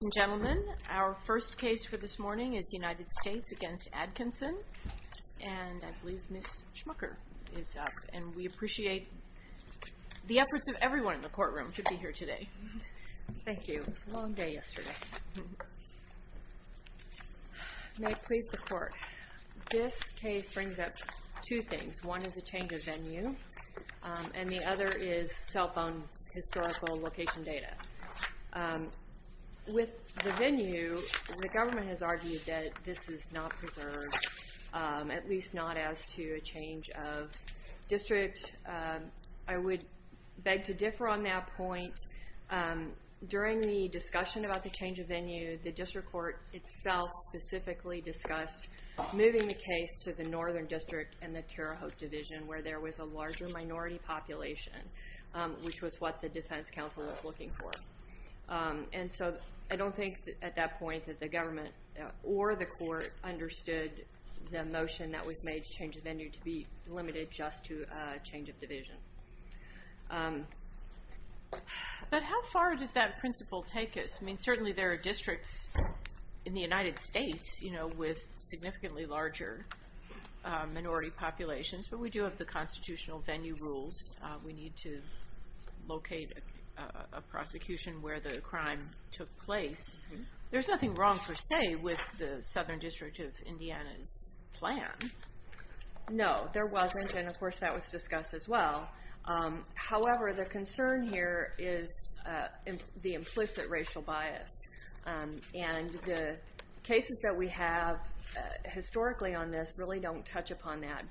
Ladies and gentlemen, our first case for this morning is United States v. Adkinson, and I believe Ms. Schmucker is up. And we appreciate the efforts of everyone in the courtroom to be here today. Thank you. It was a long day yesterday. May it please the Court, this case brings up two things. One is a change of venue, and the other is cell phone historical location data. With the venue, the government has argued that this is not preserved, at least not as to a change of district. I would beg to differ on that point. During the discussion about the change of venue, the district court itself specifically discussed moving the case to the Northern District and the Terre Haute Division, where there was a larger minority population, which was what the defense counsel was looking for. And so I don't think at that point that the government or the court understood the motion that was made to change the venue to be limited just to a change of division. But how far does that principle take us? I mean, certainly there are districts in the United States with significantly larger minority populations, but we do have the constitutional venue rules. We need to locate a prosecution where the crime took place. There's nothing wrong, per se, with the Southern District of Indiana's plan. No, there wasn't, and of course that was discussed as well. However, the concern here is the implicit racial bias, and the cases that we have historically on this really don't touch upon that.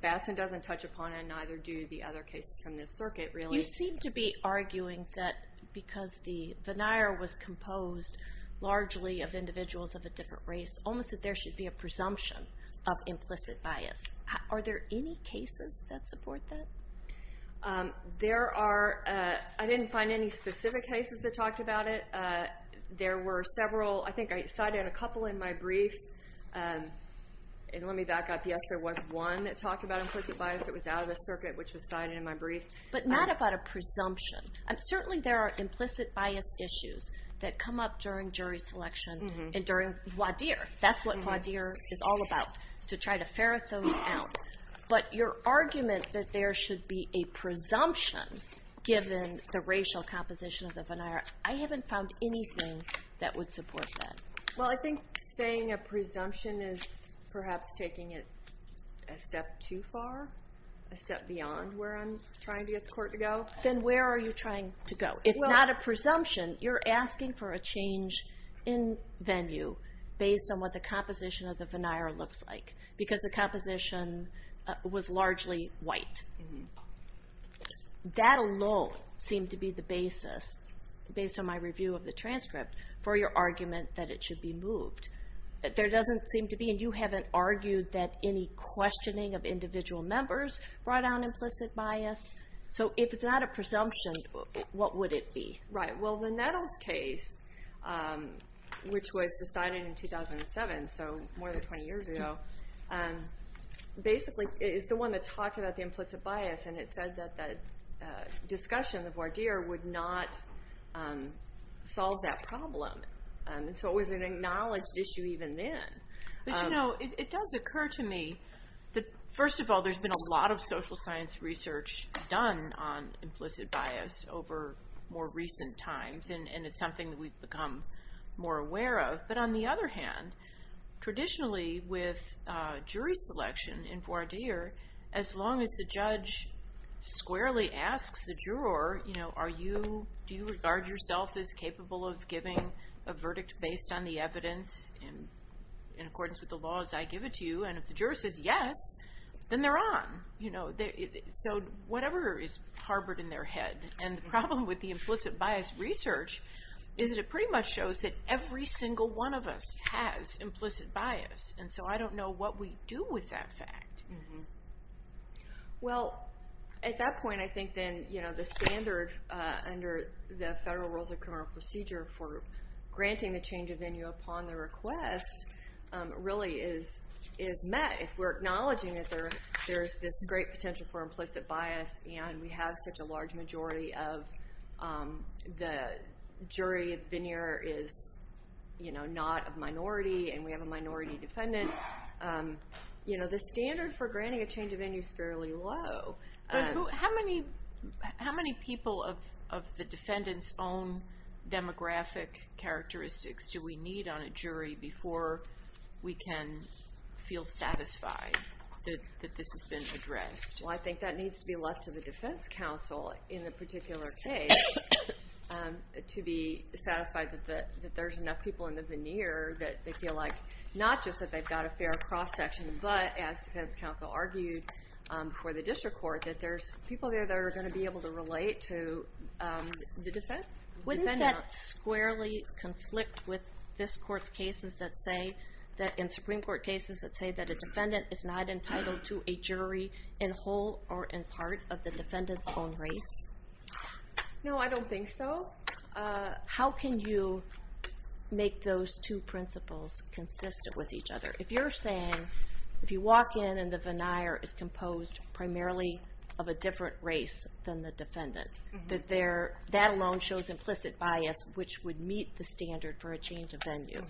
Batson doesn't touch upon it, and neither do the other cases from this circuit really. You seem to be arguing that because the veneer was composed largely of individuals of a different race, almost that there should be a presumption of implicit bias. Are there any cases that support that? There are. I didn't find any specific cases that talked about it. I think I cited a couple in my brief. And let me back up. Yes, there was one that talked about implicit bias. It was out of the circuit, which was cited in my brief. But not about a presumption. Certainly there are implicit bias issues that come up during jury selection and during WADIR. That's what WADIR is all about, to try to ferret those out. But your argument that there should be a presumption given the racial composition of the veneer, I haven't found anything that would support that. Well, I think saying a presumption is perhaps taking it a step too far, a step beyond where I'm trying to get the court to go. Then where are you trying to go? If not a presumption, you're asking for a change in venue based on what the composition of the veneer looks like, because the composition was largely white. That alone seemed to be the basis, based on my review of the transcript, for your argument that it should be moved. There doesn't seem to be, and you haven't argued, that any questioning of individual members brought on implicit bias. So if it's not a presumption, what would it be? Right. Well, the Nettles case, which was decided in 2007, so more than 20 years ago, basically is the one that talked about the implicit bias. It said that the discussion of voir dire would not solve that problem. So it was an acknowledged issue even then. But you know, it does occur to me that, first of all, there's been a lot of social science research done on implicit bias over more recent times, and it's something that we've become more aware of. But on the other hand, traditionally with jury selection in voir dire, as long as the judge squarely asks the juror, do you regard yourself as capable of giving a verdict based on the evidence in accordance with the laws I give it to you, and if the juror says yes, then they're on. So whatever is harbored in their head. And the problem with the implicit bias research is that it pretty much shows that every single one of us has implicit bias. And so I don't know what we do with that fact. Well, at that point, I think then, you know, the standard under the Federal Rules of Criminal Procedure for granting the change of venue upon the request really is met if we're acknowledging that there's this great potential for implicit bias and we have such a large majority of the jury. The majority of the veneer is, you know, not a minority, and we have a minority defendant. You know, the standard for granting a change of venue is fairly low. But how many people of the defendant's own demographic characteristics do we need on a jury before we can feel satisfied that this has been addressed? Well, I think that needs to be left to the defense counsel in the particular case to be satisfied that there's enough people in the veneer that they feel like not just that they've got a fair cross-section, but as defense counsel argued before the district court, that there's people there that are going to be able to relate to the defendant. Wouldn't that squarely conflict with this court's cases that say that in Supreme Court cases that say that a defendant is not entitled to a jury in whole or in part of the defendant's own race? No, I don't think so. How can you make those two principles consistent with each other? If you're saying, if you walk in and the veneer is composed primarily of a different race than the defendant, that alone shows implicit bias which would meet the standard for a change of venue,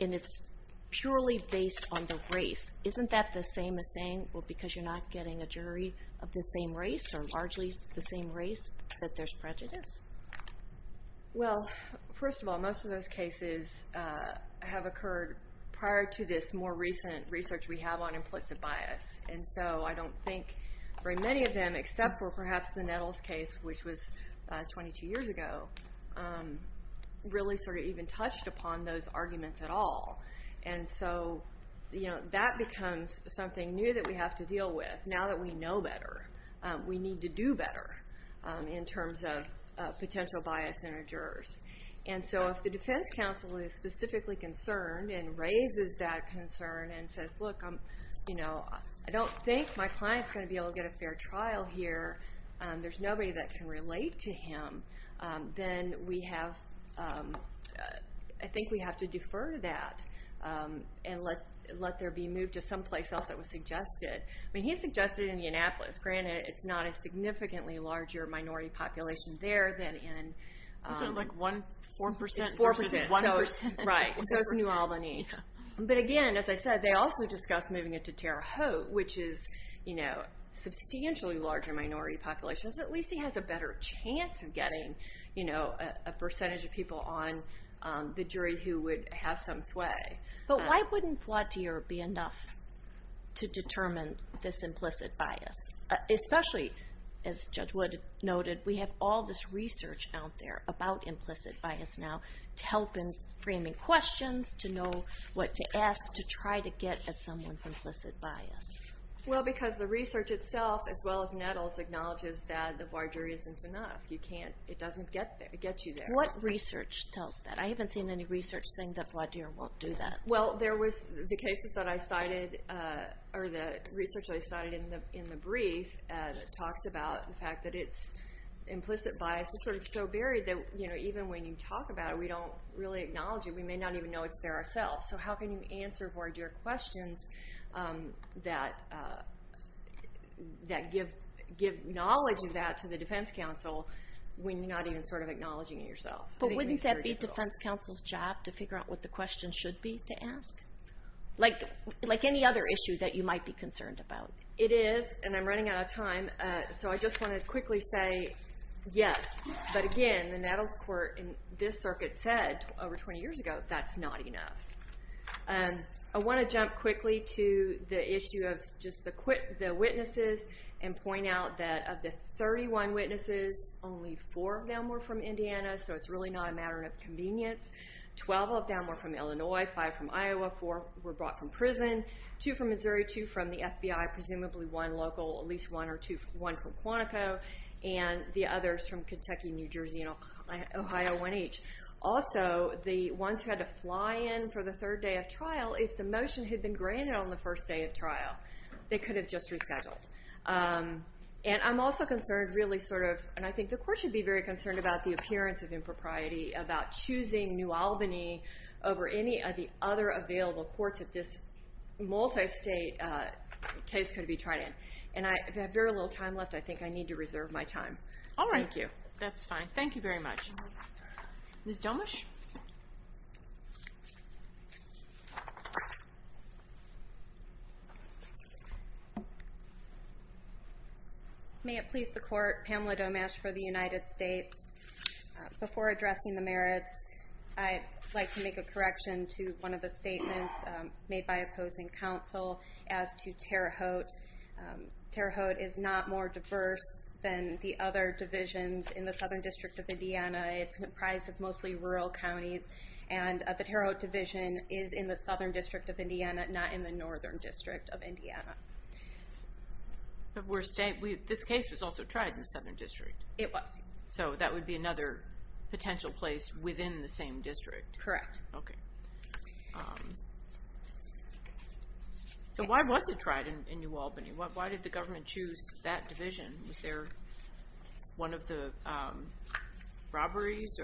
and it's purely based on the race, isn't that the same as saying, well, because you're not getting a jury of the same race, or largely the same race, that there's prejudice? Well, first of all, most of those cases have occurred prior to this more recent research we have on implicit bias. And so I don't think very many of them, except for perhaps the Nettles case, which was 22 years ago, really sort of even touched upon those arguments at all. And so that becomes something new that we have to deal with now that we know better. We need to do better in terms of potential bias in our jurors. And so if the defense counsel is specifically concerned and raises that concern and says, look, I don't think my client's going to be able to get a fair trial here, there's nobody that can relate to him, then I think we have to defer to that and let there be move to someplace else that was suggested. I mean, he suggested Indianapolis. Granted, it's not a significantly larger minority population there than in... Isn't it like 4% versus 1%? Right, so it's New Albany. But again, as I said, they also discussed moving it to Terre Haute, which is a substantially larger minority population, so at least he has a better chance of getting, you know, a percentage of people on the jury who would have some sway. But why wouldn't Flautier be enough to determine this implicit bias? Especially, as Judge Wood noted, we have all this research out there about implicit bias now to help in framing questions, to know what to ask, to try to get at someone's implicit bias. Well, because the research itself, as well as Nettles, acknowledges that the voir dire isn't enough. It doesn't get you there. What research tells that? I haven't seen any research saying that Flautier won't do that. Well, there was the research that I cited in the brief that talks about the fact that its implicit bias is sort of so buried that even when you talk about it, we don't really acknowledge it. We may not even know it's there ourselves. So how can you answer voir dire questions that give knowledge of that to the defense counsel when you're not even sort of acknowledging it yourself? But wouldn't that be defense counsel's job to figure out what the question should be to ask? Like any other issue that you might be concerned about. It is, and I'm running out of time, so I just want to quickly say yes. But again, the Nettles court in this circuit said over 20 years ago that's not enough. I want to jump quickly to the issue of just the witnesses and point out that of the 31 witnesses, only 4 of them were from Indiana, so it's really not a matter of convenience. 12 of them were from Illinois, 5 from Iowa, 4 were brought from prison, 2 from Missouri, 2 from the FBI, presumably one local, at least one or two, one from Quantico, and the others from Kentucky, New Jersey, and Ohio, one each. Also, the ones who had to fly in for the third day of trial, if the motion had been granted on the first day of trial, they could have just rescheduled. And I'm also concerned really sort of, and I think the court should be very concerned about the appearance of impropriety, about choosing New Albany over any of the other available courts that this multi-state case could be tried in. And I have very little time left. I think I need to reserve my time. All right. Thank you. That's fine. Thank you very much. Ms. Domasch? May it please the court, Pamela Domasch for the United States. Before addressing the merits, I'd like to make a correction to one of the statements made by opposing counsel as to Terre Haute. Terre Haute is not more diverse than the other divisions in the Southern District of Indiana. It's comprised of mostly rural counties, and the Terre Haute division is in the Southern District of Indiana, not in the Northern District of Indiana. But this case was also tried in the Southern District. It was. So that would be another potential place within the same district. Correct. Okay. So why was it tried in New Albany? Why did the government choose that division? Was there one of the robberies?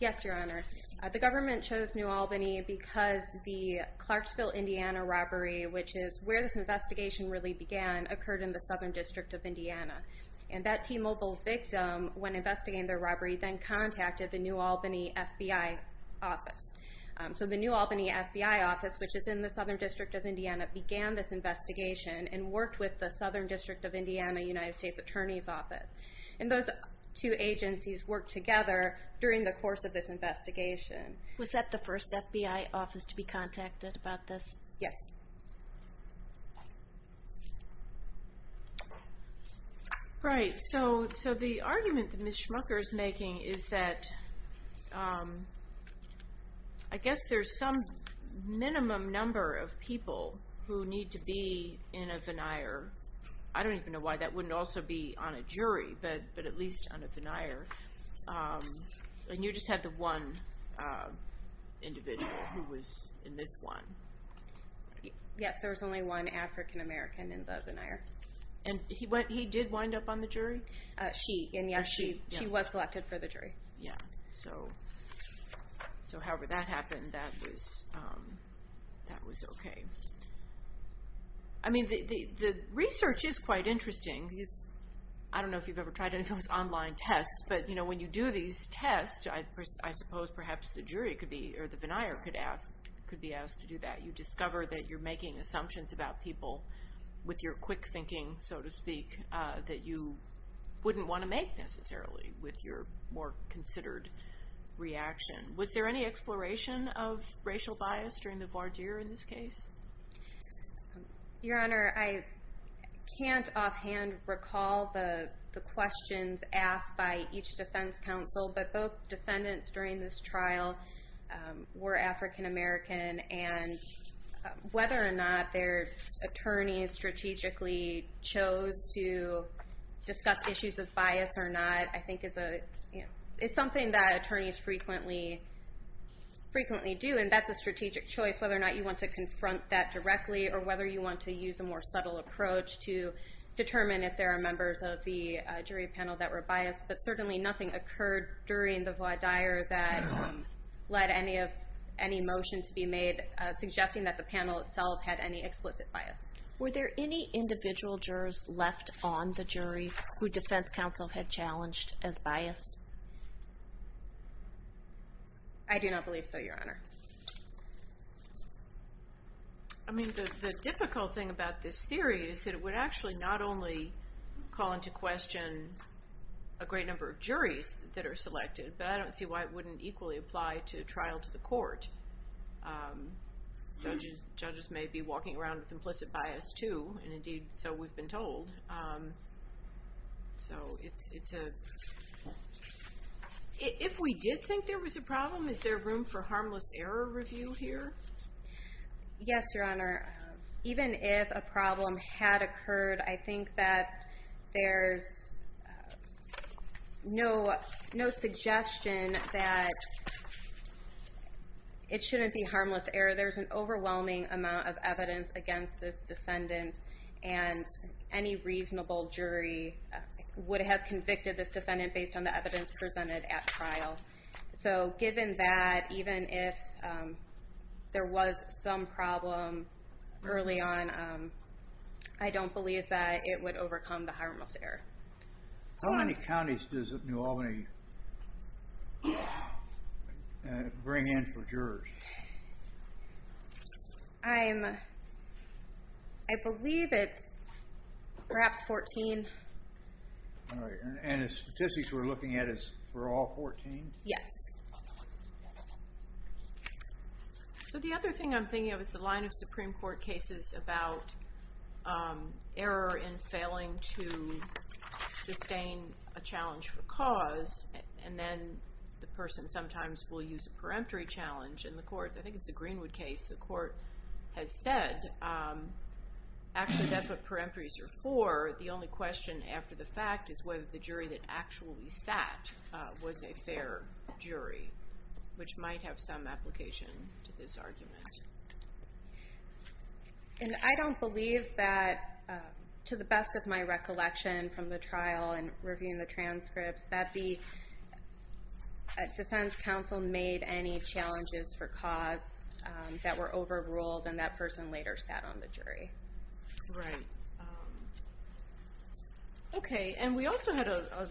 Yes, Your Honor. The government chose New Albany because the Clarksville, Indiana robbery, which is where this investigation really began, occurred in the Southern District of Indiana. And that T-Mobile victim, when investigating the robbery, then contacted the New Albany FBI office. So the New Albany FBI office, which is in the Southern District of Indiana, began this investigation and worked with the Southern District of Indiana United States Attorney's Office. And those two agencies worked together during the course of this investigation. Was that the first FBI office to be contacted about this? Yes. Right. So the argument that Ms. Schmucker is making is that, I guess there's some minimum number of people who need to be in a veneer. I don't even know why. That wouldn't also be on a jury, but at least on a veneer. And you just had the one individual who was in this one. Yes, there was only one African American in the veneer. And he did wind up on the jury? She, and, yes, she was selected for the jury. Yes. So however that happened, that was okay. I mean, the research is quite interesting. I don't know if you've ever tried any of those online tests, but when you do these tests, I suppose perhaps the jury could be, or the veneer could be asked to do that. You discover that you're making assumptions about people with your quick thinking, so to speak, that you wouldn't want to make necessarily with your more considered reaction. Was there any exploration of racial bias during the voir dire in this case? Your Honor, I can't offhand recall the questions asked by each defense counsel, but both defendants during this trial were African American, and whether or not their attorneys strategically chose to discuss issues of bias or not I think is something that attorneys frequently do. And that's a strategic choice, whether or not you want to confront that directly or whether you want to use a more subtle approach to determine if there are members of the jury panel that were biased. But certainly nothing occurred during the voir dire that led any motion to be made suggesting that the panel itself had any explicit bias. Were there any individual jurors left on the jury who defense counsel had challenged as biased? I do not believe so, Your Honor. I mean, the difficult thing about this theory is that it would actually not only call into question a great number of juries that are selected, but I don't see why it wouldn't equally apply to a trial to the court. Judges may be walking around with implicit bias, too, and indeed so we've been told. So it's a – if we did think there was a problem, is there room for harmless error review here? Yes, Your Honor. Even if a problem had occurred, I think that there's no suggestion that it shouldn't be harmless error. There's an overwhelming amount of evidence against this defendant, and any reasonable jury would have convicted this defendant based on the evidence presented at trial. So given that, even if there was some problem early on, I don't believe that it would overcome the harmless error. How many counties does New Albany bring in for jurors? I believe it's perhaps 14. And the statistics we're looking at is for all 14? Yes. So the other thing I'm thinking of is the line of Supreme Court cases about error in failing to sustain a challenge for cause, and then the person sometimes will use a peremptory challenge in the court. I think it's the Greenwood case. The court has said actually that's what peremptories are for. The only question after the fact is whether the jury that actually sat was a fair jury, which might have some application to this argument. And I don't believe that, to the best of my recollection from the trial and reviewing the transcripts, that the defense counsel made any challenges for cause that were overruled, and that person later sat on the jury. Right. Okay. And we also had a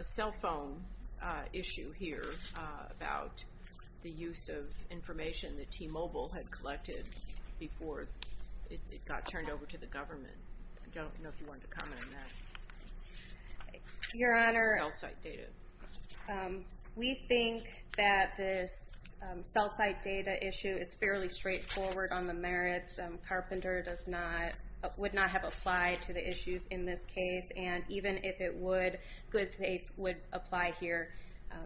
cell phone issue here about the use of information that T-Mobile had collected before it got turned over to the government. I don't know if you wanted to comment on that. Your Honor, we think that this cell site data, this data issue is fairly straightforward on the merits. Carpenter would not have applied to the issues in this case, and even if it would, good faith would apply here.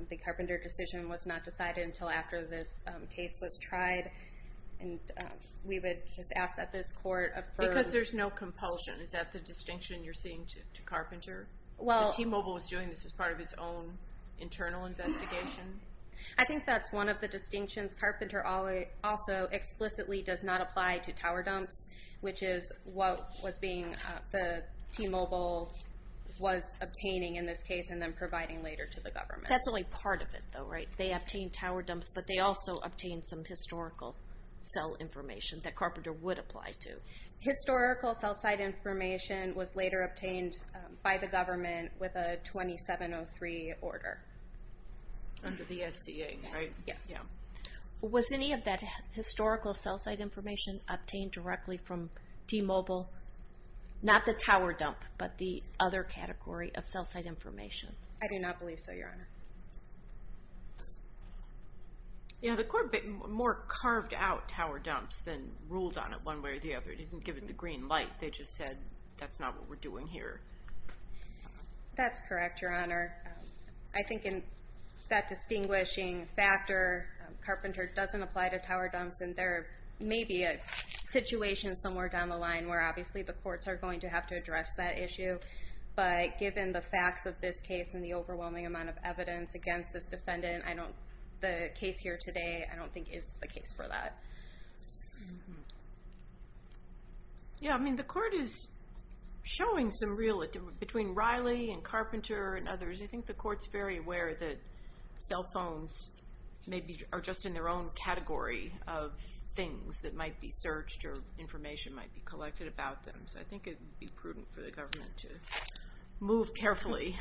The Carpenter decision was not decided until after this case was tried, and we would just ask that this court affirm. Because there's no compulsion. Is that the distinction you're seeing to Carpenter? T-Mobile was doing this as part of its own internal investigation? I think that's one of the distinctions. Carpenter also explicitly does not apply to tower dumps, which is what the T-Mobile was obtaining in this case and then providing later to the government. That's only part of it, though, right? They obtained tower dumps, but they also obtained some historical cell information that Carpenter would apply to. Historical cell site information was later obtained by the government with a 2703 order. Under the SCA, right? Yes. Was any of that historical cell site information obtained directly from T-Mobile? Not the tower dump, but the other category of cell site information? I do not believe so, Your Honor. The court more carved out tower dumps than ruled on it one way or the other. It didn't give it the green light. They just said that's not what we're doing here. That's correct, Your Honor. I think in that distinguishing factor, Carpenter doesn't apply to tower dumps, and there may be a situation somewhere down the line where, obviously, the courts are going to have to address that issue. But given the facts of this case and the overwhelming amount of evidence against this defendant, the case here today I don't think is the case for that. Yeah, I mean, the court is showing some real difference. Between Riley and Carpenter and others, I think the court's very aware that cell phones are just in their own category of things that might be searched or information might be collected about them. So I think it would be prudent for the government to move carefully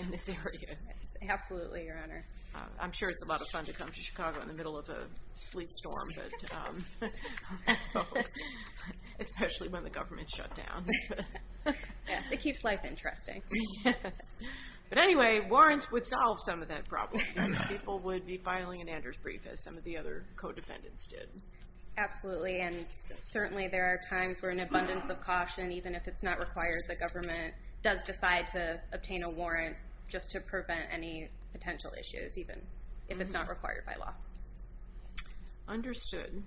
in this area. Absolutely, Your Honor. I'm sure it's a lot of fun to come to Chicago in the middle of a sleep storm, especially when the government's shut down. Yes, it keeps life interesting. Yes. But anyway, warrants would solve some of that problem because people would be filing an Anders brief, as some of the other co-defendants did. Absolutely, and certainly there are times where an abundance of caution, even if it's not required, the government does decide to obtain a warrant just to prevent any potential issues, even if it's not required by law. Understood.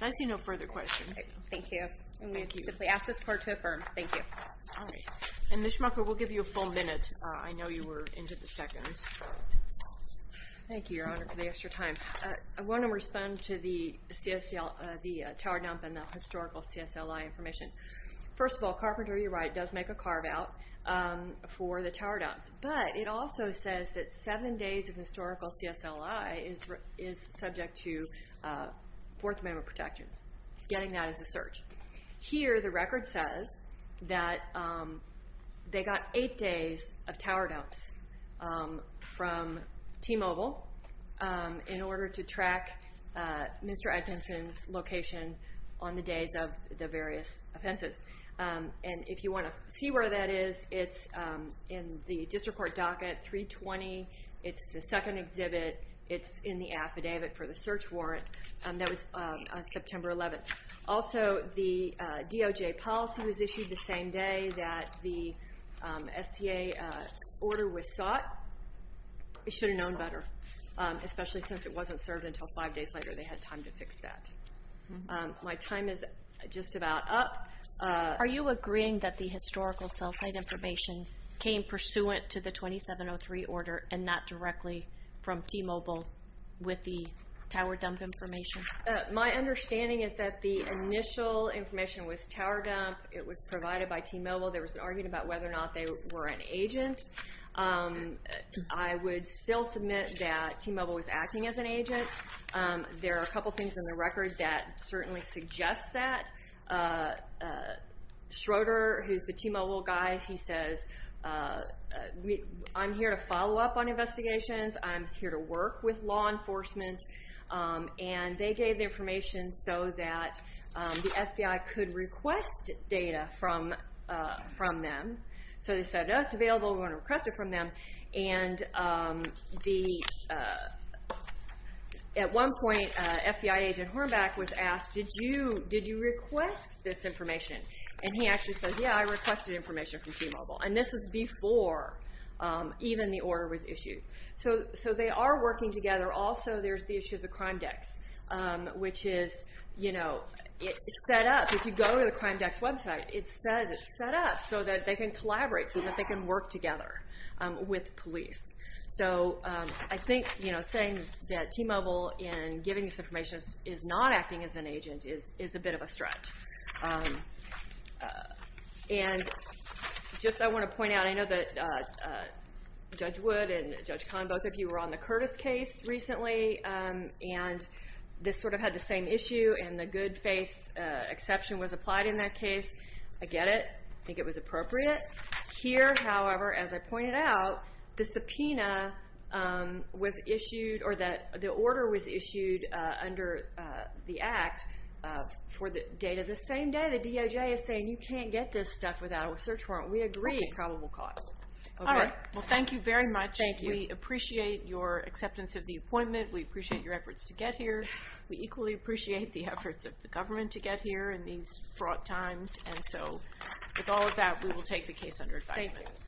I see no further questions. Thank you. And we simply ask this court to affirm. Thank you. All right. And Ms. Schmucker, we'll give you a full minute. I know you were into the seconds. Thank you, Your Honor, for the extra time. I want to respond to the tower dump and the historical CSLI information. First of all, Carpenter, you're right, does make a carve-out for the tower dumps. But it also says that seven days of historical CSLI is subject to Fourth Amendment protections. Getting that is a search. Here, the record says that they got eight days of tower dumps from T-Mobile in order to track Mr. Atkinson's location on the days of the various offenses. And if you want to see where that is, it's in the district court docket 320. It's the second exhibit. It's in the affidavit for the search warrant. That was September 11th. Also, the DOJ policy was issued the same day that the SCA order was sought. It should have known better, especially since it wasn't served until five days later. They had time to fix that. My time is just about up. Are you agreeing that the historical cell site information came pursuant to the 2703 order and not directly from T-Mobile with the tower dump information? My understanding is that the initial information was tower dump. It was provided by T-Mobile. There was an argument about whether or not they were an agent. I would still submit that T-Mobile was acting as an agent. There are a couple things in the record that certainly suggest that. Schroeder, who's the T-Mobile guy, he says, I'm here to follow up on investigations. I'm here to work with law enforcement. And they gave the information so that the FBI could request data from them. So they said, oh, it's available. We want to request it from them. At one point, FBI agent Hornback was asked, did you request this information? And he actually says, yeah, I requested information from T-Mobile. And this is before even the order was issued. So they are working together. Also, there's the issue of the Crime Dex, which is set up. If you go to the Crime Dex website, it says it's set up so that they can collaborate, so that they can work together. With police. So I think saying that T-Mobile, in giving this information, is not acting as an agent is a bit of a stretch. And just I want to point out, I know that Judge Wood and Judge Kahn, both of you were on the Curtis case recently. And this sort of had the same issue. And the good faith exception was applied in that case. I get it. I think it was appropriate. Here, however, as I pointed out, the subpoena was issued, or the order was issued under the Act for the date of the same day. The DOJ is saying you can't get this stuff without a search warrant. We agree. At probable cost. All right. Well, thank you very much. We appreciate your acceptance of the appointment. We appreciate your efforts to get here. We equally appreciate the efforts of the government to get here in these fraught times. And so, with all of that, we will take the case under advisement. Thank you.